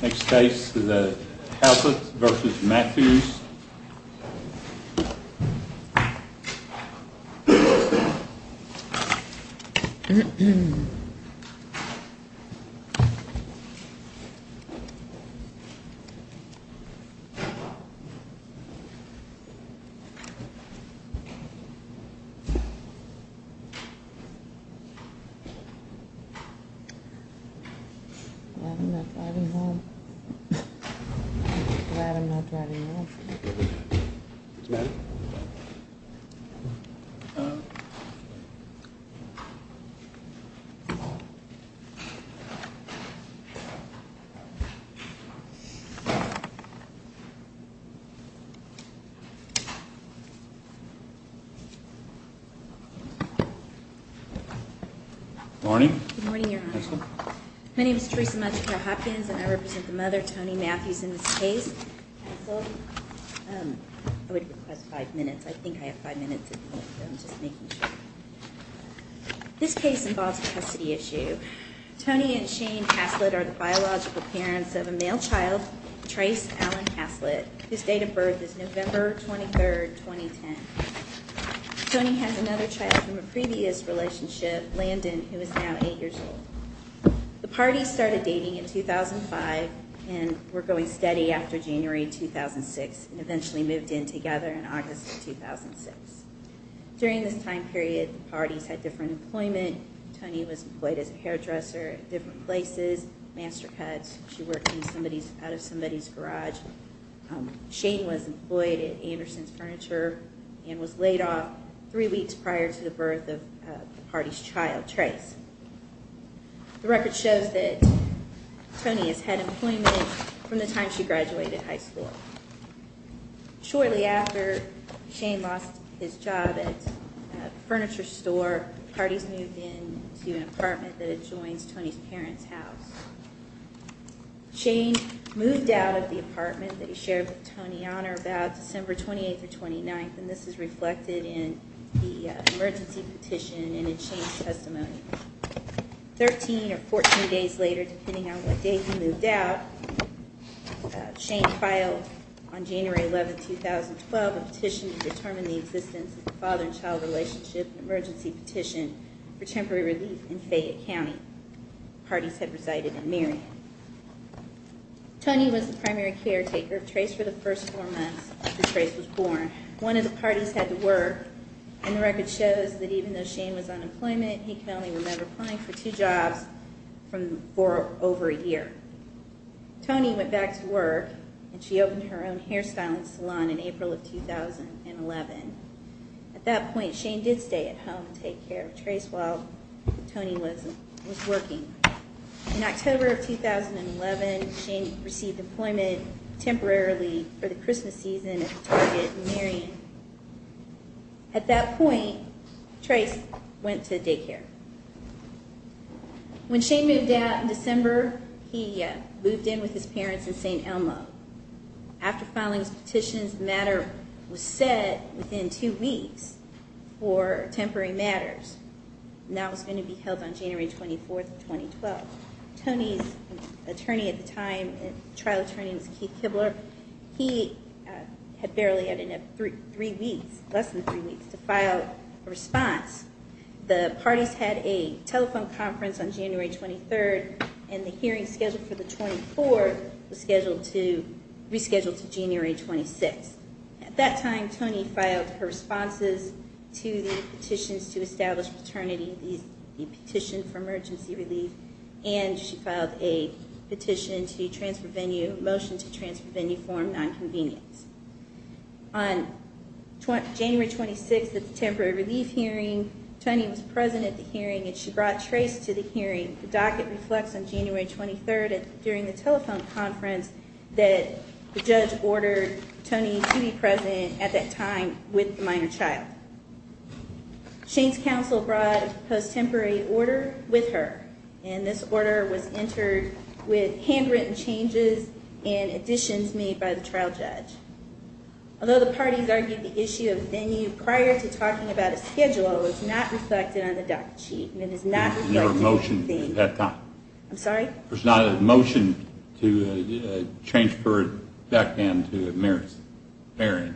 Next case is a Halsett v. Mathews Next case is a Halsett v. Mathews I represent the mother, Tony Mathews, in this case. I would request five minutes. I think I have five minutes at the moment. This case involves a custody issue. Tony and Shane Haslett are the biological parents of a male child, Trace Alan Haslett. His date of birth is November 23, 2010. Tony has another child from a previous relationship, Landon, who is now eight years old. The parties started dating in 2005 and were going steady after January 2006 and eventually moved in together in August of 2006. During this time period, the parties had different employment. Tony was employed as a hairdresser at different places, master cuts. She worked out of somebody's garage. Shane was employed at Anderson's child, Trace. The record shows that Tony has had employment from the time she graduated high school. Shortly after, Shane lost his job at a furniture store. The parties moved into an apartment that adjoins Tony's parents' house. Shane moved out of the apartment that he shared with Tony on or about December 28 or 29, and this is reflected in the emergency petition and in Shane's testimony. Thirteen or fourteen days later, depending on what day he moved out, Shane filed on January 11, 2012, a petition to determine the existence of a father and child relationship, an emergency petition for temporary relief in Fayette County. The parties had resided in Marion. Tony was the primary caretaker of Trace for the first four months after Trace was born. One of the parties had to work, and the record shows that even though Shane was on employment, he can only remember applying for two jobs for over a year. Tony went back to work, and she opened her own hair styling salon in April of 2011. At that point, Shane did stay at home and take care of Trace while Tony was working. In October of 2011, Shane received employment temporarily for the Christmas season at Target in Marion. At that point, Trace went to daycare. When Shane moved out in December, he moved in with his parents in St. Elmo. After filing his petition, his matter was set within two weeks for temporary matters, and that was going to be held on January 24, 2012. Tony's attorney at the time, trial attorney, was Keith Kibler. He had barely had enough three weeks, less than three weeks, to file a response. The parties had a telephone conference on January 23, and the hearing scheduled for the 24th was rescheduled to January 26. At that time, Tony filed her responses to the petitions to establish paternity, the petition for emergency relief, and she filed a petition to transfer venue, motion to transfer venue form nonconvenience. On January 26 at the temporary relief hearing, Tony was present at the hearing, and she brought Trace to the hearing. The docket reflects on January 23rd during the telephone conference that the judge ordered Tony to be present at that time with the minor child. Shane's counsel brought a post-temporary order with her, and this order was entered with handwritten changes and additions made by the trial judge. Although the parties argued the issue of venue prior to talking about a schedule, it was not reflected on the docket sheet. There was not a motion to transfer it back into the marriage hearing.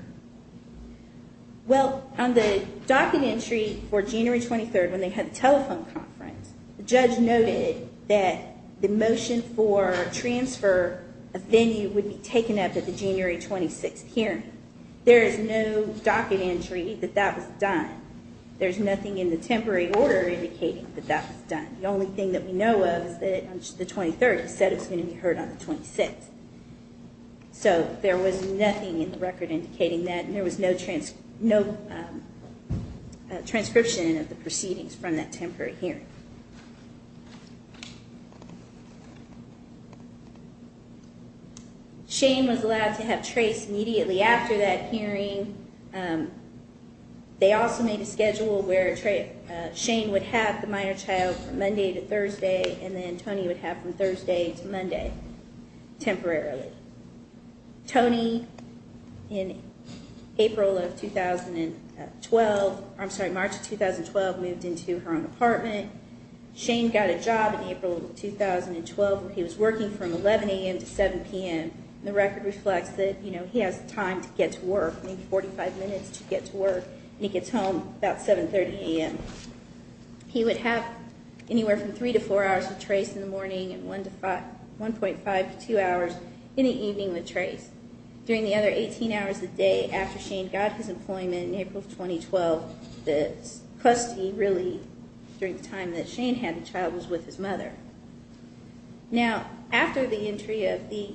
Well, on the docket entry for January 23rd when they had the telephone conference, the judge noted that the motion for transfer of venue would be taken up at the January 26th hearing. There is no docket entry that that was done. There's nothing in the temporary order indicating that that was done. The only thing that we know of is that on the 23rd it said it was going to be heard on the 26th. So there was nothing in the record indicating that, and there was no transcription of the proceedings from that temporary hearing. Shane was allowed to have Trace immediately after that hearing. They also made a schedule where Shane would have the minor child from Monday to Thursday, and then Tony would have from Thursday to Monday, temporarily. Tony in April of 2012, I'm sorry, March of 2012, moved into her own apartment. Shane got a job in April of 2012. He was working from 11 a.m. to 7 p.m. The record reflects that he has time to get to work, maybe 45 minutes to get to work, and he gets home about 7.30 a.m. He would have anywhere from 3 to 4 hours with Trace in the morning and 1.5 to 2 hours in the evening with Trace. During the other 18 hours of the day after Shane got his employment in April of 2012, the custody really, during the time that Shane had the child, was with his mother. Now, after the entry of the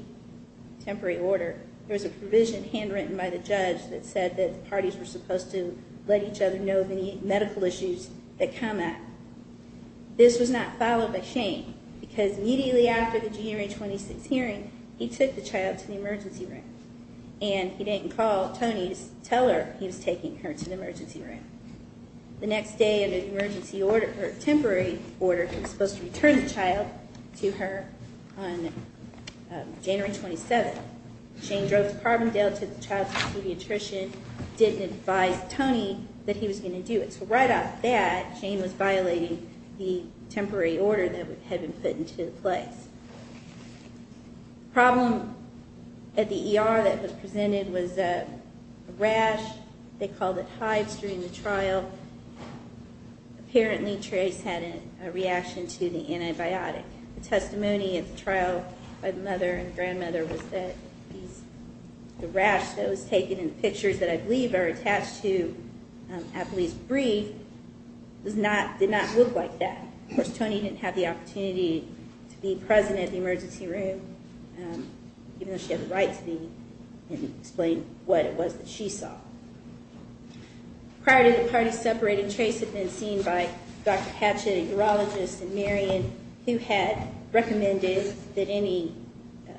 temporary order, there was a provision handwritten by the judge that said that the parties were supposed to let each other know of any medical issues that come up. This was not followed by Shane, because immediately after the January 26th hearing, he took the child to the emergency room, and he didn't call Tony to tell her he was taking her to the emergency room. The next day, under the temporary order, he was supposed to return the child to her on January 27th. Shane drove to Carbondale, took the child, and told Tony that he was going to do it. So right off that, Shane was violating the temporary order that had been put into place. The problem at the ER that was presented was a rash. They called it hives during the trial. Apparently, Trace had a reaction to the antibiotic. The testimony at the trial by the mother and at least brief, did not look like that. Of course, Tony didn't have the opportunity to be present at the emergency room, even though she had the right to be and explain what it was that she saw. Prior to the parties separating, Trace had been seen by Dr. Hatchett, a urologist, and Marion, who had recommended that any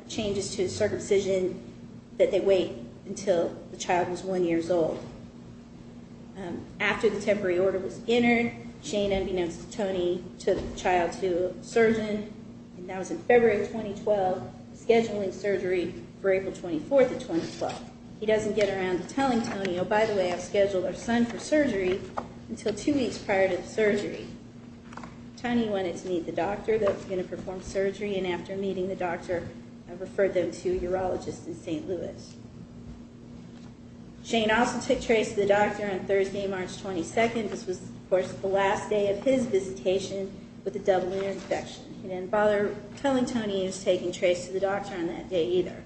changes to the circumcision that they wait until the child was one year old. After the temporary order was entered, Shane, unbeknownst to Tony, took the child to a surgeon. That was in February of 2012, scheduling surgery for April 24th of 2012. He doesn't get around to telling Tony, oh, by the way, I've scheduled our son for surgery until two weeks prior to the surgery. Tony wanted to meet the urologist in St. Louis. Shane also took Trace to the doctor on Thursday, March 22nd. This was, of course, the last day of his visitation with a double ear infection. He didn't bother telling Tony he was taking Trace to the doctor on that day either.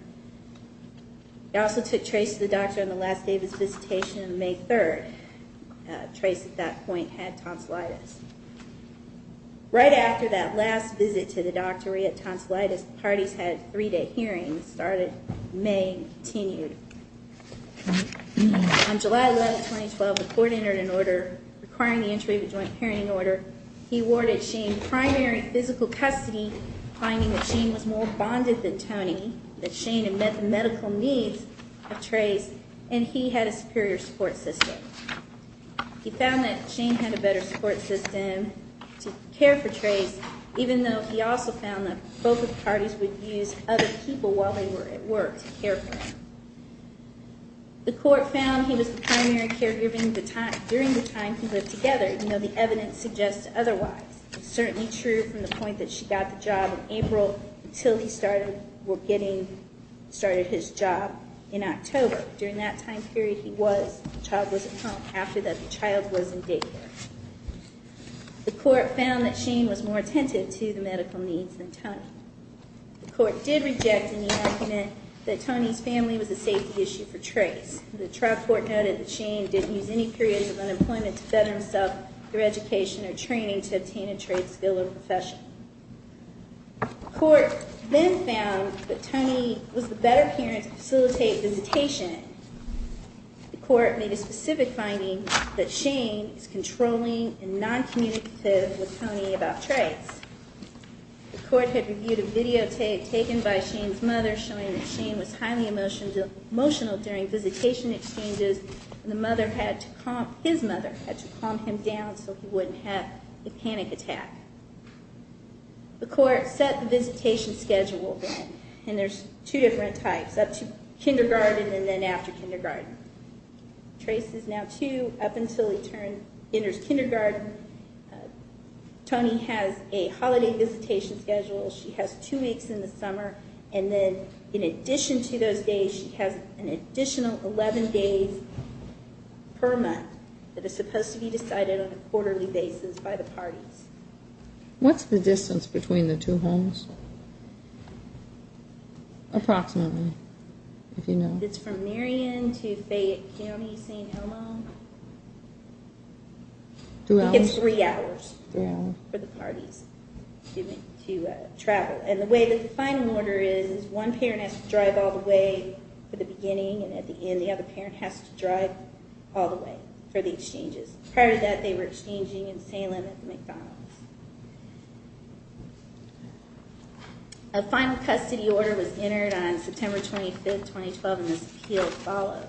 He also took Trace to the doctor on the last day of his visitation on May 3rd. Trace, at that point, had tonsillitis. Right after that last visit to the doctor, he had tonsillitis. The parties had a three-day hearing that started May and continued. On July 11th, 2012, the court entered an order requiring the entry of a joint hearing order. He awarded Shane primary physical custody, finding that Shane was more bonded than Tony, that Shane had met the medical needs of Trace, and that he had a superior support system. He found that Shane had a better support system to care for Trace, even though he also found that both of the parties would use other people while they were at work to care for him. The court found he was the primary caregiver during the time he lived together, even though the evidence suggests otherwise. It's certainly true from the point that she got the job in April until he started his job in October. During that time period, the child was at home. After that, the child was in daycare. The court found that Shane was more attentive to the medical needs than Tony. The court did reject any argument that Tony's family was a safety issue for Trace. The trial court noted that Shane didn't use any periods of unemployment to better himself through education or training to obtain a trade skill or profession. The court then found that Tony was the better parent to facilitate visitation. The court made a specific finding that Shane is controlling and non-communicative with Tony about Trace. The court had reviewed a videotape taken by Shane's mother, showing that Shane was highly emotional during visitation exchanges, and his mother had to calm him down so he wouldn't have the panic attack. The court set the visitation schedule, and there's two different types, up to kindergarten and then after kindergarten. Trace is now two, up until he enters kindergarten. Tony has a holiday visitation schedule. She has two weeks in the summer, and then in addition to those days, she has an additional 11 days per month that is supposed to be decided on a quarterly basis by the parties. What's the distance between the two homes? Approximately, if you know. It's from Marion to Fayette County, St. Helens. He gets three hours for the parties to travel. And the way that the final order is, one parent has to drive all the way for the beginning, and at the end, the other parent has to drive all the way for the exchanges. Prior to that, they were exchanging in Salem and McDonald's. A final custody order was entered on January 1st.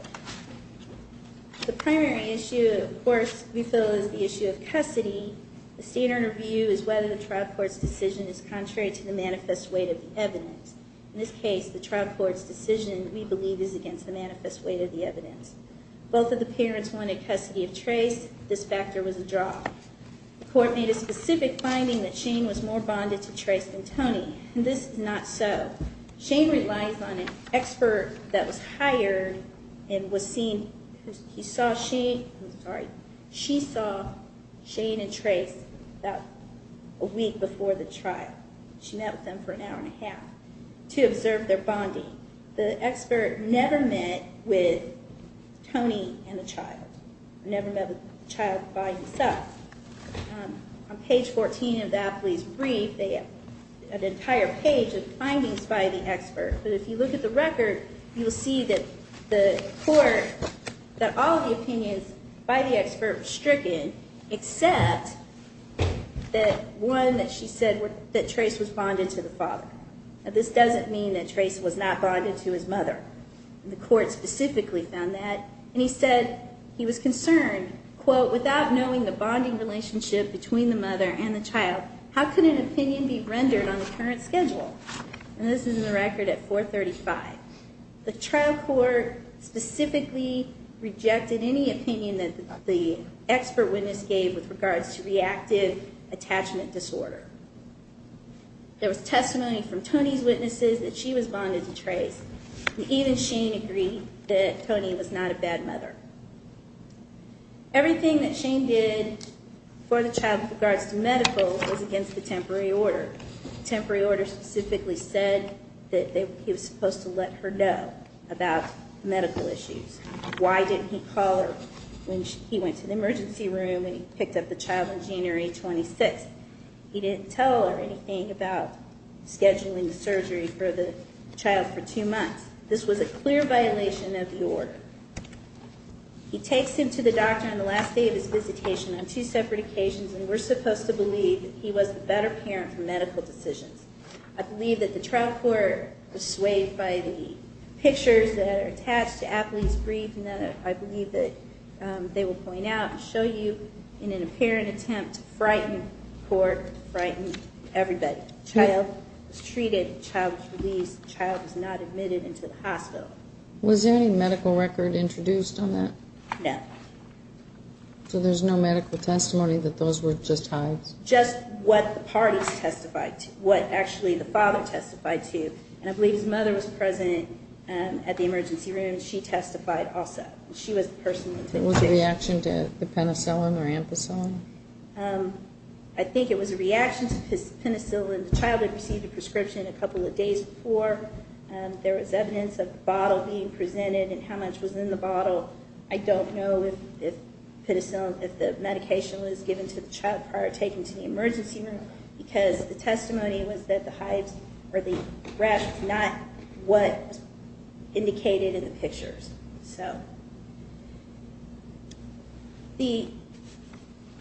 The primary issue, of course, we feel is the issue of custody. The standard review is whether the trial court's decision is contrary to the manifest weight of the evidence. In this case, the trial court's decision, we believe, is against the manifest weight of the evidence. Both of the parents wanted custody of Trace. This factor was a draw. The court made a specific finding that Shane was more bonded to Trace than Tony. This is not so. Shane relies on an expert that was hired and was seen. He saw Shane. I'm sorry. She saw Shane and Trace about a week before the trial. She met with them for an hour and a half to observe their bonding. The expert never met with Tony and the child. Never met with the child by himself. On page 14 of the athlete's brief, they have an entire page of findings by the expert. If you look at the record, you'll see that the court, that all of the opinions by the expert were stricken, except that one that she said that Trace was bonded to the father. This doesn't mean that Trace was not bonded to his mother. The court specifically found that. He said he was concerned, quote, without knowing the bonding relationship between the mother and the child, how could an opinion be rendered on the current schedule? This is the record at 435. The trial court specifically rejected any opinion that the expert witness gave with regards to reactive attachment disorder. There was testimony from Tony's witnesses that she was bonded to Trace. Even Shane agreed that Tony was not a bad mother. Everything that Shane did for the child with regards to medical was against the temporary order. The temporary order specifically said that he was supposed to let her know about medical issues. Why didn't he call her when he went to the emergency room and he picked up the child on January 26th? He didn't tell her anything about scheduling the surgery for the child for two months. This was a clear violation of the order. He takes him to the doctor on the last day of his visitation on two separate occasions and we're supposed to believe that he was a better parent for medical decisions. I believe that the trial court was swayed by the pictures that are attached to Apley's brief and that I believe that they will point out and show you in an apparent attempt to frighten the court, frighten everybody. The child was treated, the child was released, the child was not admitted into the hospital. Was there any medical record introduced on that? No. So there's no medical testimony that those were just hives? Just what the parties testified to, what actually the father testified to. And I believe his mother was present at the emergency room and she testified also. She was the person that took him. Was it a reaction to the penicillin or ampicillin? I think it was a reaction to penicillin. The child had received a prescription a couple of days before. There was evidence of the bottle being presented and how much was in the bottle. I don't know if the medication was given to the child prior to taking him to the emergency room because the testimony was that the hives or the breath was not what was indicated in the pictures. The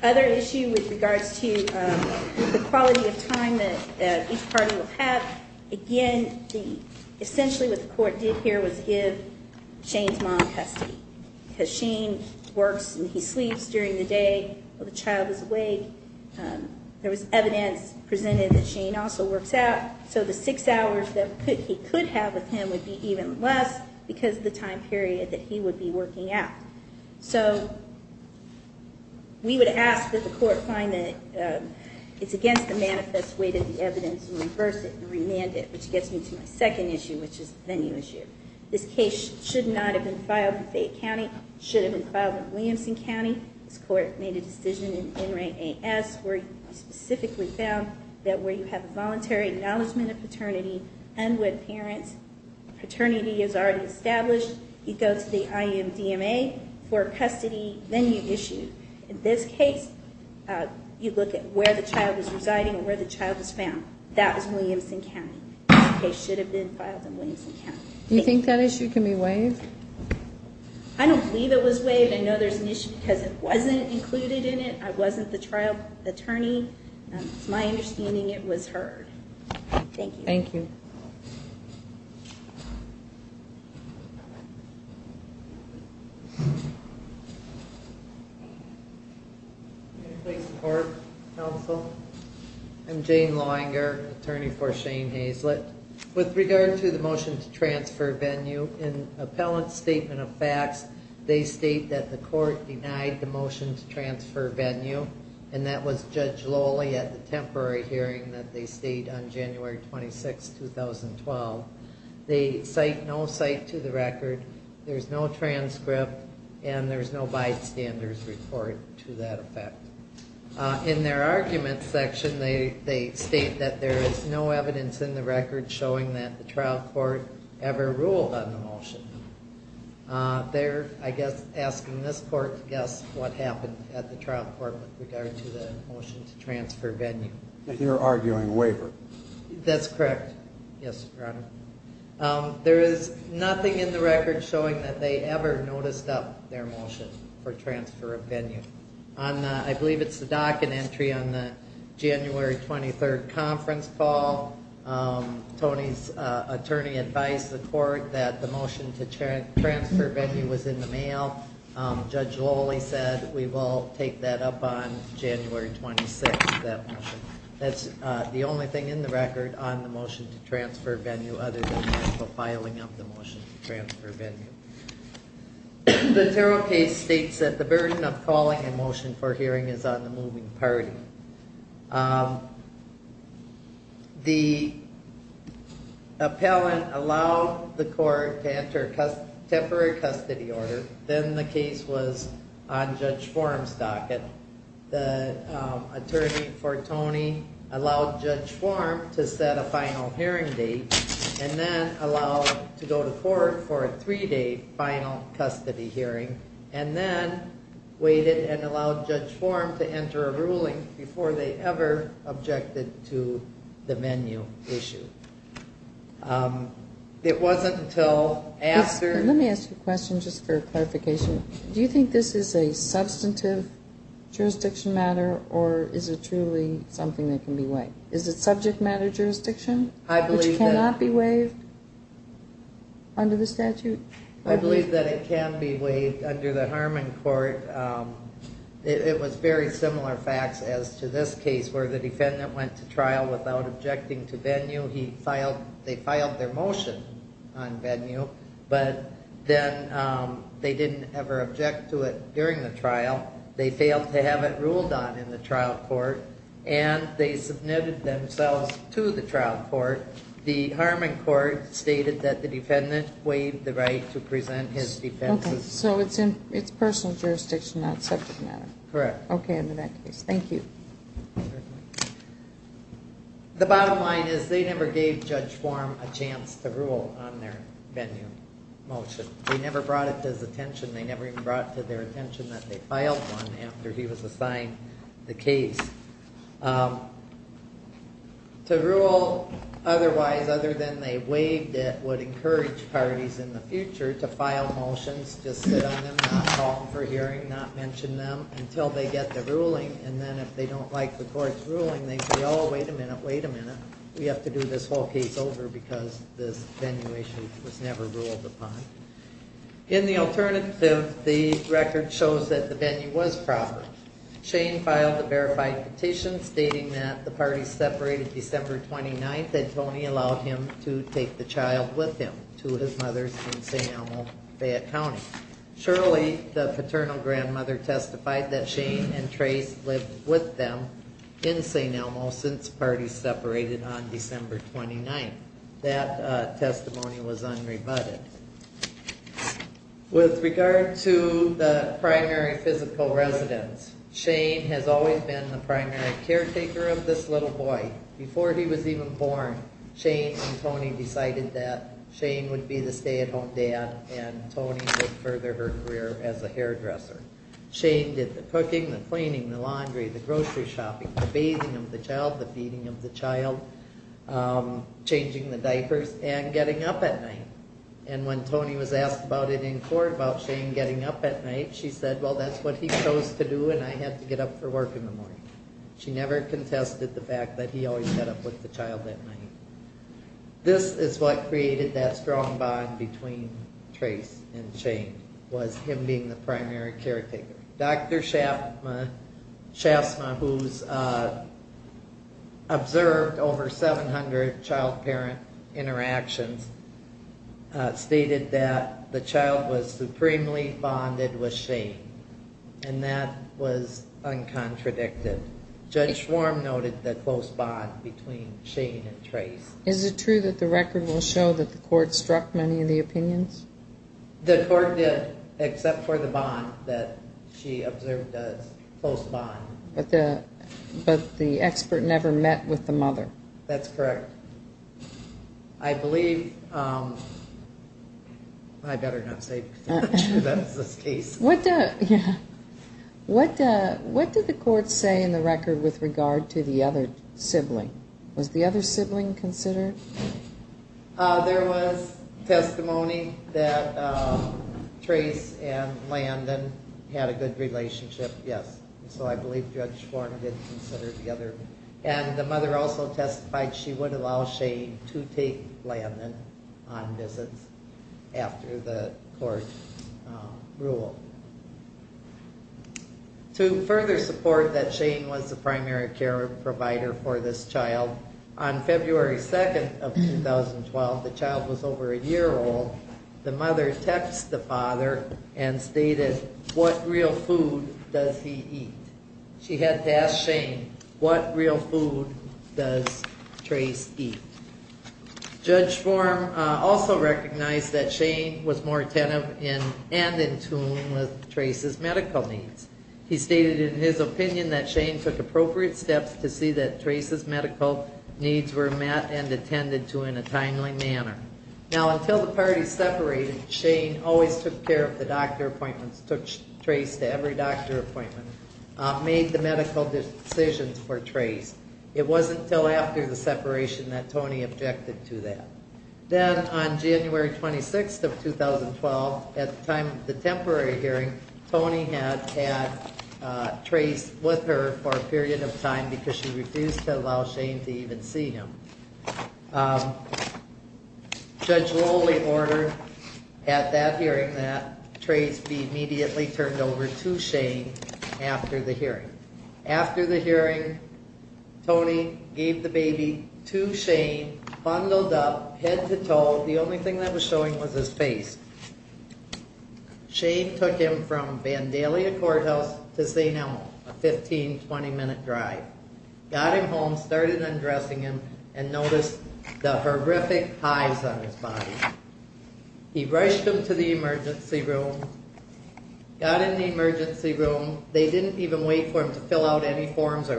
other issue with regards to the quality of time that each party will have, again, essentially what the court did here was give Shane's mom custody because Shane works and he sleeps during the day while the child is awake. There was evidence presented that Shane also works out, so the six hours that he could have with him would be even less because of the time period that he would be working out. We would ask that the court find that it's against the manifest weight of the evidence and reverse it and remand it, which gets me to my second issue, which is the venue issue. This case should not have been filed in Fayette County. It should have been filed in Williamson County. This court made a decision in NRA AS where it specifically found that where you have a voluntary acknowledgement of paternity and when parents' paternity is already established, you go to the IMDMA for a custody venue issue. In this case, you look at where the child was residing or where the child was found. That was Williamson County. This case should have been filed in Williamson County. Do you think that issue can be waived? I don't believe it was waived. I know there's an issue because it wasn't included in it. I wasn't the trial attorney. It's my understanding it was heard. Thank you. I'm Jane Lawanger, attorney for Shane Hazlett. With regard to the motion to transfer venue, in appellant's statement of facts, they state that the court ruled lowly at the temporary hearing that they stayed on January 26, 2012. They cite no cite to the record. There's no transcript, and there's no bystanders report to that effect. In their argument section, they state that there is no evidence in the record showing that the trial court ever ruled on the motion. They're, I guess, asking this court to guess what happened at the trial court with regard to the motion to transfer venue. You're arguing waiver. That's correct. Yes, Your Honor. There is nothing in the record showing that they ever noticed up their motion for transfer of venue. I believe it's the docket entry on the January 23rd conference call. Tony's attorney advised the court that the we will take that up on January 26th. That's the only thing in the record on the motion to transfer venue other than the filing of the motion to transfer venue. The Tarot case states that the burden of calling a motion for hearing is on the moving party. The appellant allowed the court to enter a temporary custody order. Then the case was on Judge Form's docket. The attorney for Tony allowed Judge Form to set a final hearing date and then allowed to go to court for a three-day final custody hearing and then waited and allowed Judge Form to enter a ruling before they ever objected to the venue issue. It wasn't until after... Let me ask you a question just for clarification. Do you think this is a substantive jurisdiction matter or is it truly something that can be waived? Is it subject matter jurisdiction which cannot be waived under the statute? I believe that it can be waived under the Harmon court. It was very similar facts as to this case where the defendant went to trial without objecting to venue. They filed their motion on venue but then they didn't ever object to it during the trial. They failed to have it ruled on in the trial court and they submitted themselves to the trial court. The Harmon court stated that the defendant waived the motion to present his defense. So it's personal jurisdiction, not subject matter? Correct. Okay, in that case. Thank you. The bottom line is they never gave Judge Form a chance to rule on their venue motion. They never brought it to his attention. They never even brought it to their attention that they filed one after he was assigned the case. To rule otherwise, other than they waived it would encourage parties in the future to file motions, just sit on them, not call them for hearing, not mention them until they get the ruling. And then if they don't like the court's ruling, they say, oh, wait a minute, wait a minute. We have to do this whole case over because this venue issue was never ruled upon. In the alternative, the record shows that the venue was proper. Shane filed a verified petition stating that the parties separated December 29th and Tony allowed him to take the child with him to his mother's in St. Elmo, Fayette County. Surely the paternal grandmother testified that Shane and Trace lived with them in St. Elmo since parties separated on December 29th. That testimony was unrebutted. With regard to the primary physical residence, Shane has always been the primary caretaker of this little boy. Before he was even born, Shane and Tony decided that Shane would be the stay-at-home dad and Tony would further her career as a hairdresser. Shane did the cooking, the cleaning, the laundry, the grocery shopping, the bathing of the child, the feeding of the child, changing the diapers, and getting up at night. And when Tony was asked about it in court about Shane getting up at night, she said, well, that's what he chose to do and I had to get up for work in the morning. She never contested the fact that he always got up with the child at night. This is what created that strong bond between Trace and Shane, was him being the primary caretaker. Dr. Shafsma, who's observed over 700 child-parent interactions, stated that the child was supremely bonded with Shane, and that was uncontradicted. Judge Schwarm noted the close bond between Shane and Trace. Is it true that the record will show that the court struck many of the opinions? The court did, except for the bond that she observed as close bond. But the expert never met with the mother? That's correct. I believe, I better not say because I'm not sure that's the case. What did the court say in the record with regard to the other sibling? Was the other sibling considered? There was testimony that Trace and Landon had a good relationship, yes. So I believe Judge Schwarm did consider the other, and the mother also testified she would allow Shane to take Landon on visits after the court ruled. To further support that Shane was the primary care provider for this child, on February 2nd of 2012, the child was over a year old, the mother texted the father and stated, what real food does he eat? She had to ask Shane, what real food does Trace eat? Judge Schwarm also recognized that Shane was more attentive and in tune with Trace's medical needs. He stated in his opinion that Shane took appropriate steps to see that Trace's medical needs were met and attended to in a timely manner. Now until the parties separated, Shane always took care of the doctor appointments, took Trace to every doctor appointment, made the medical decisions for Trace. It wasn't until after the separation that Tony objected to that. Then on January 26th of 2012, at the temporary hearing, Tony had had Trace with her for a period of time because she refused to allow Shane to even see him. Judge Rowley ordered at that hearing that Trace be immediately turned over to Shane after the hearing. After the hearing, Tony gave the baby to Shane, bundled up, head to toe, the only thing that was showing was his face. Shane took him from Vandalia Courthouse to St. Elmo, a 15-20 minute drive, got him home, started undressing him and noticed the horrific highs on his body. He rushed him to the emergency room, got in the emergency room, they didn't even wait for him to fill out any forms or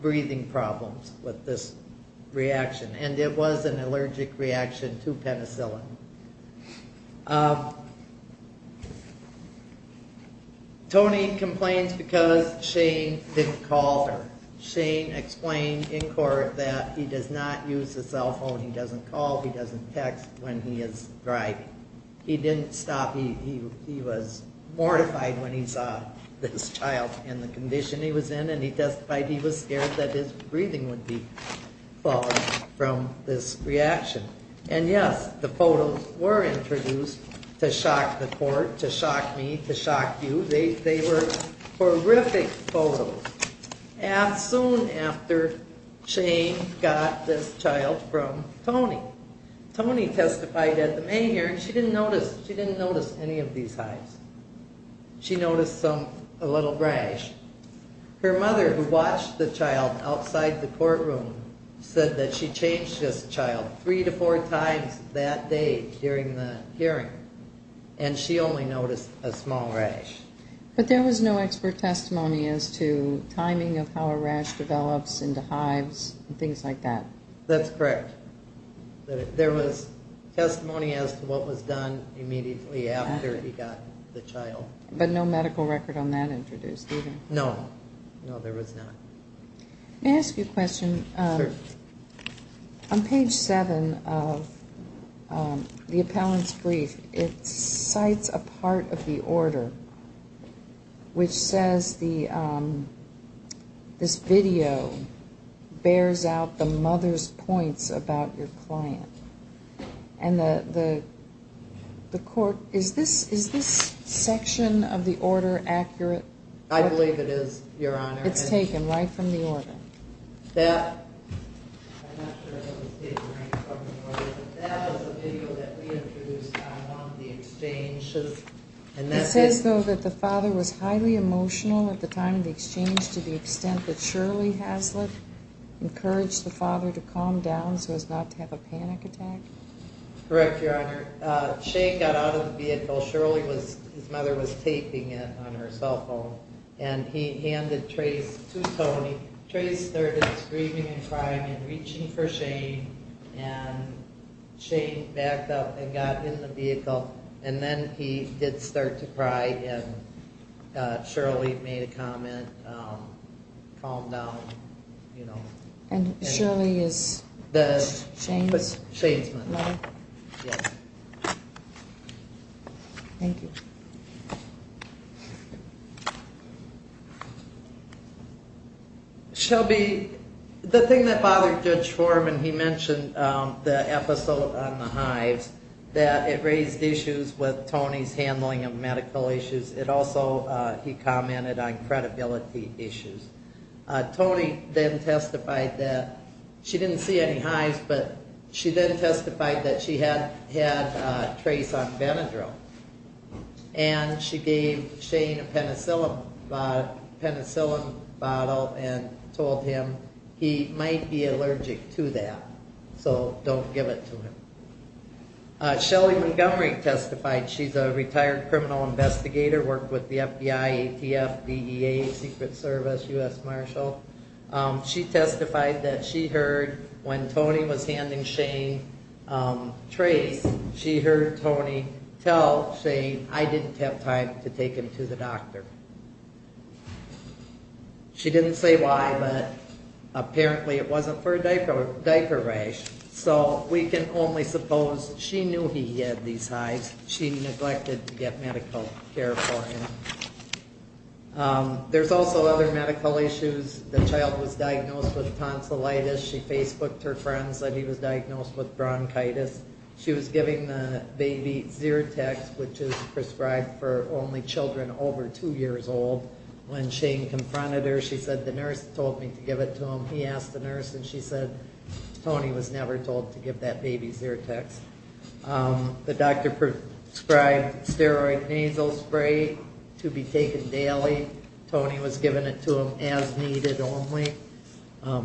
breathing problems with this reaction. And it was an allergic reaction to penicillin. Tony complains because Shane didn't call her. Shane explained in court that he does not use his cell phone, he doesn't call, he doesn't text when he is driving. He didn't stop. He was mortified when he saw this child and the condition he was in and he testified he was scared that his breathing would be fallen from this reaction. And yes, the photos were introduced to shock the court, to shock me, to shock you. They were horrific photos. And soon after, Shane got this child from Tony. Tony testified at the main hearing. She didn't notice any of these hives. She noticed a little rash. Her mother, who watched the child outside the courtroom, said that she changed this child three to four times that day during the hearing. And she only noticed a small rash. But there was no expert testimony as to timing of how a rash develops into hives and things like that. That's correct. There was testimony as to what was done immediately after he got the child. But no medical record on that introduced either? No. No, there was not. May I ask you a question? Sure. On page seven of the appellant's brief, it cites a part of the order which says this video bears out the mother's points about your client. Is this section of the order accurate? I believe it is, Your Honor. It's taken right from the order. I'm not sure if it's taken right from the order, but that was the video that we introduced on the exchange. It says, though, that the father was highly emotional at the time of the exchange to the extent that Shirley Haslett encouraged the father to calm down so as not to have a panic attack? Correct, Your Honor. Shane got out of the vehicle. Shirley, his mother, was taping it on her cell phone. And he handed Trace to Tony. Trace started screaming and crying and reaching for Shane. And Shane backed up and got in the vehicle. And then he did start to cry and Shirley made a comment, calmed down. And Shirley is Shane's mother? Shane's mother, yes. Thank you. Shelby, the thing that bothered Judge Foreman, he mentioned the episode on the hives, that it raised issues with Tony's handling of medical issues. It also, he commented on credibility issues. Tony then testified that she didn't see any hives, but she then she gave Shane a penicillin bottle and told him he might be allergic to that, so don't give it to him. Shelly Montgomery testified. She's a retired criminal investigator, worked with the FBI, ATF, DEA, Secret Service, U.S. Marshal. She testified that she heard when Tony was handing Shane Trace, she heard Tony tell Shane I didn't have time to take him to the doctor. She didn't say why, but apparently it wasn't for a diaper rash. So we can only suppose she knew he had these hives. She neglected to get medical care for him. There's also other medical issues. The child was diagnosed with tonsillitis. She Facebooked her friends that he was diagnosed with bronchitis. She was giving the baby Zyrtex, which is prescribed for only children over 2 years old. When Shane confronted her, she said the nurse told me to give it to him. He asked the nurse and she said Tony was never told to give that baby Zyrtex. The doctor prescribed steroid nasal spray to be taken daily. Tony was giving it to him as needed only,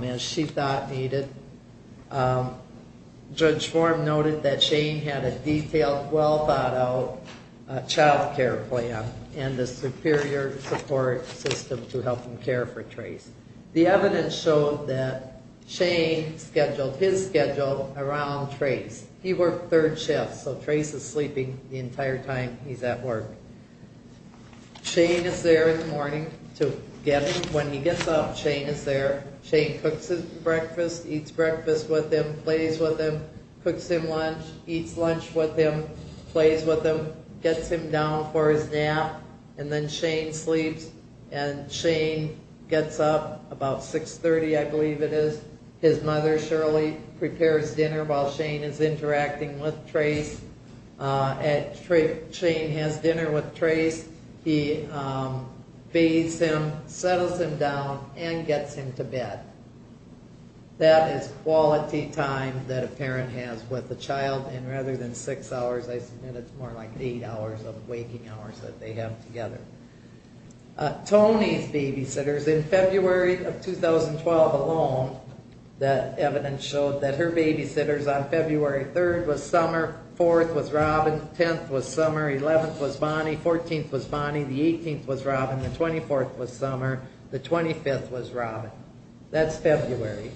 as she thought needed. Judge Schwarm noted that Shane had a detailed, well-thought-out child care plan and a superior support system to help him care for Trace. The evidence showed that Shane scheduled his schedule around Trace. He worked third shifts, so Trace is sleeping the entire time he's at work. Shane is there in the morning to get him. When he gets up, Shane is there. Shane cooks his breakfast, eats breakfast with him, plays with him, cooks him lunch, eats lunch with him, plays with him, gets him down for his nap, and then Shane sleeps. And Shane gets up about 6.30, I believe it is. His mother, Shirley, prepares dinner while Shane is interacting with Trace. Shane has dinner with Trace. He bathes him, settles him down, and gets him to bed. That is quality time that a parent has with a child, and rather than 6 hours, I submit it's more like 8 hours of waking hours that they have together. Toni's babysitters, in February of 2012 alone, that evidence showed that her babysitters on February 3rd was Summer, 4th was Robin, 10th was Summer, 11th was Bonnie, 14th was Bonnie, the 18th was Robin, the 24th was Summer, the 25th was Robin. That's February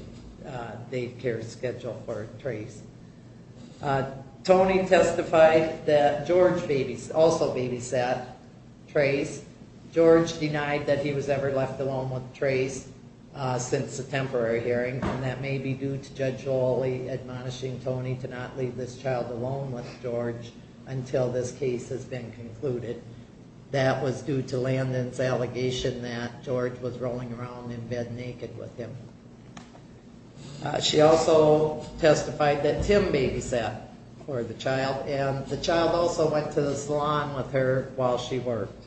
daycare schedule for Trace. Toni testified that George also babysat Trace. George denied that he was ever left alone with Trace since the temporary hearing, and that may be due to Judge Oley admonishing Toni to not leave this child alone with George until this case has been concluded. That was due to Landon's allegation that George was rolling around in bed naked with him. She also testified that Tim babysat for the child, and the child also went to the salon with her while she worked.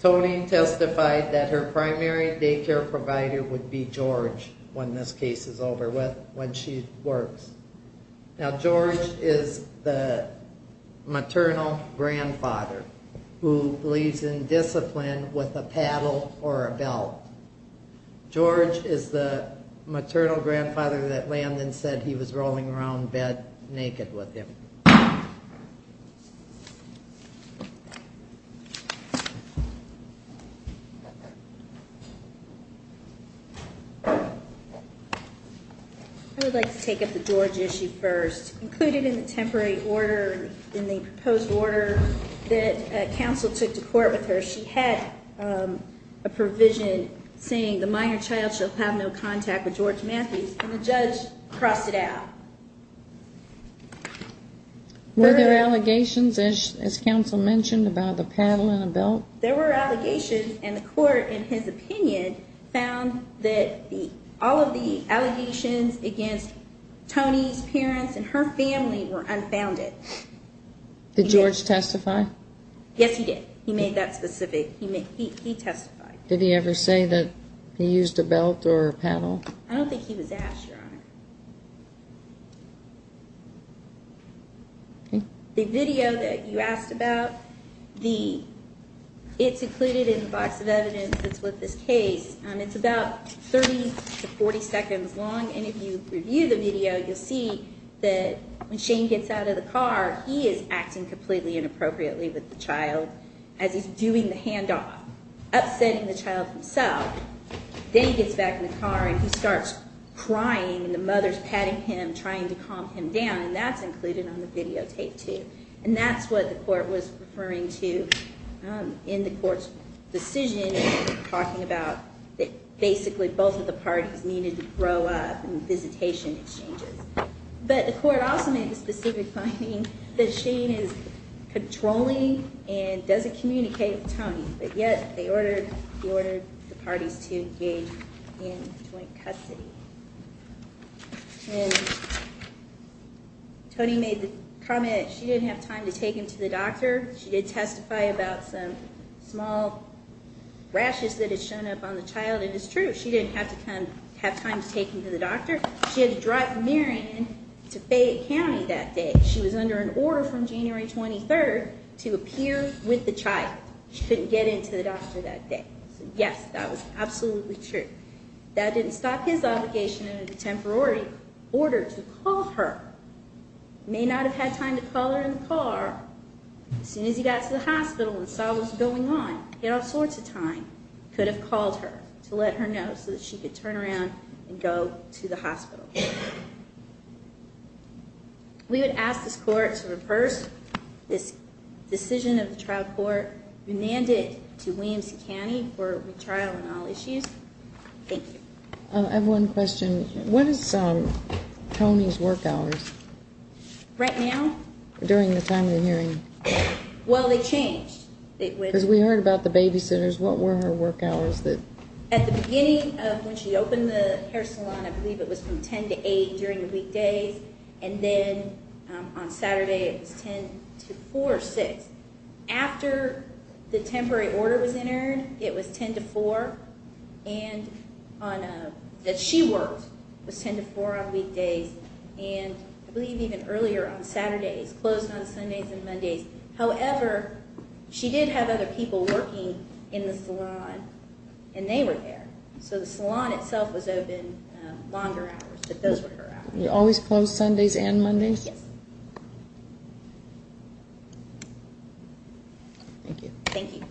Toni testified that her primary daycare provider would be George when this case is over, when she works. Now George is the maternal grandfather who believes in discipline with a grandfather that Landon said he was rolling around in bed naked with him. I would like to take up the George issue first. Included in the temporary order, in the proposed order that counsel took to court with her, she had a contract with George Matthews, and the judge crossed it out. Were there allegations, as counsel mentioned, about the paddle in a belt? There were allegations, and the court, in his opinion, found that all of the allegations against Toni's parents and her family were unfounded. Did George testify? Yes, he did. He made that point. I don't think he was asked, Your Honor. The video that you asked about, it's included in the box of evidence that's with this case. It's about 30 to 40 seconds long, and if you review the video, you'll see that when Shane gets out of the car, he is acting completely inappropriately with the child as he's doing the talking. He starts crying, and the mother's patting him, trying to calm him down, and that's included on the videotape, too. And that's what the court was referring to in the court's decision, talking about that basically both of the parties needed to grow up in visitation exchanges. But the court also made the specific finding that Shane is controlling and doesn't communicate with Toni, but yet he ordered the parties to engage in joint custody. And Toni made the comment that she didn't have time to take him to the doctor. She did testify about some small rashes that had shown up on the child, and it's true. She didn't have time to take him to the doctor. She had to drive Marion to Fayette County that day. She was under an order from January 23rd to appear with the child. She couldn't get into the doctor that day. Yes, that was absolutely true. That didn't stop his obligation in a temporary order to call her. May not have had time to call her in the car. As soon as he got to the hospital and saw what was going on, he had all sorts of time. Could have called her to let her know so that she could turn around and go to the hospital. We would ask this court to reverse this decision of the trial court, remand it to Williams County for retrial on all issues. Thank you. I have one question. What is Toni's work hours? Right now? During the time of the hearing. Well, they changed. Because we heard about the babysitters. What were her work hours? At the beginning of when she opened the hair salon, I believe it was from 10 to 8 during the weekdays. And then on Saturday it was 10 to 4 or 6. After the temporary order was entered, it was 10 to 4. And that she worked was 10 to 4 on weekdays. And I believe even earlier on Saturdays. Closed on Sundays and Mondays. However, she did have other people working in the salon. And they were there. So the salon itself was open longer hours. You always closed Sundays and Mondays? Yes. Thank you. Thank you.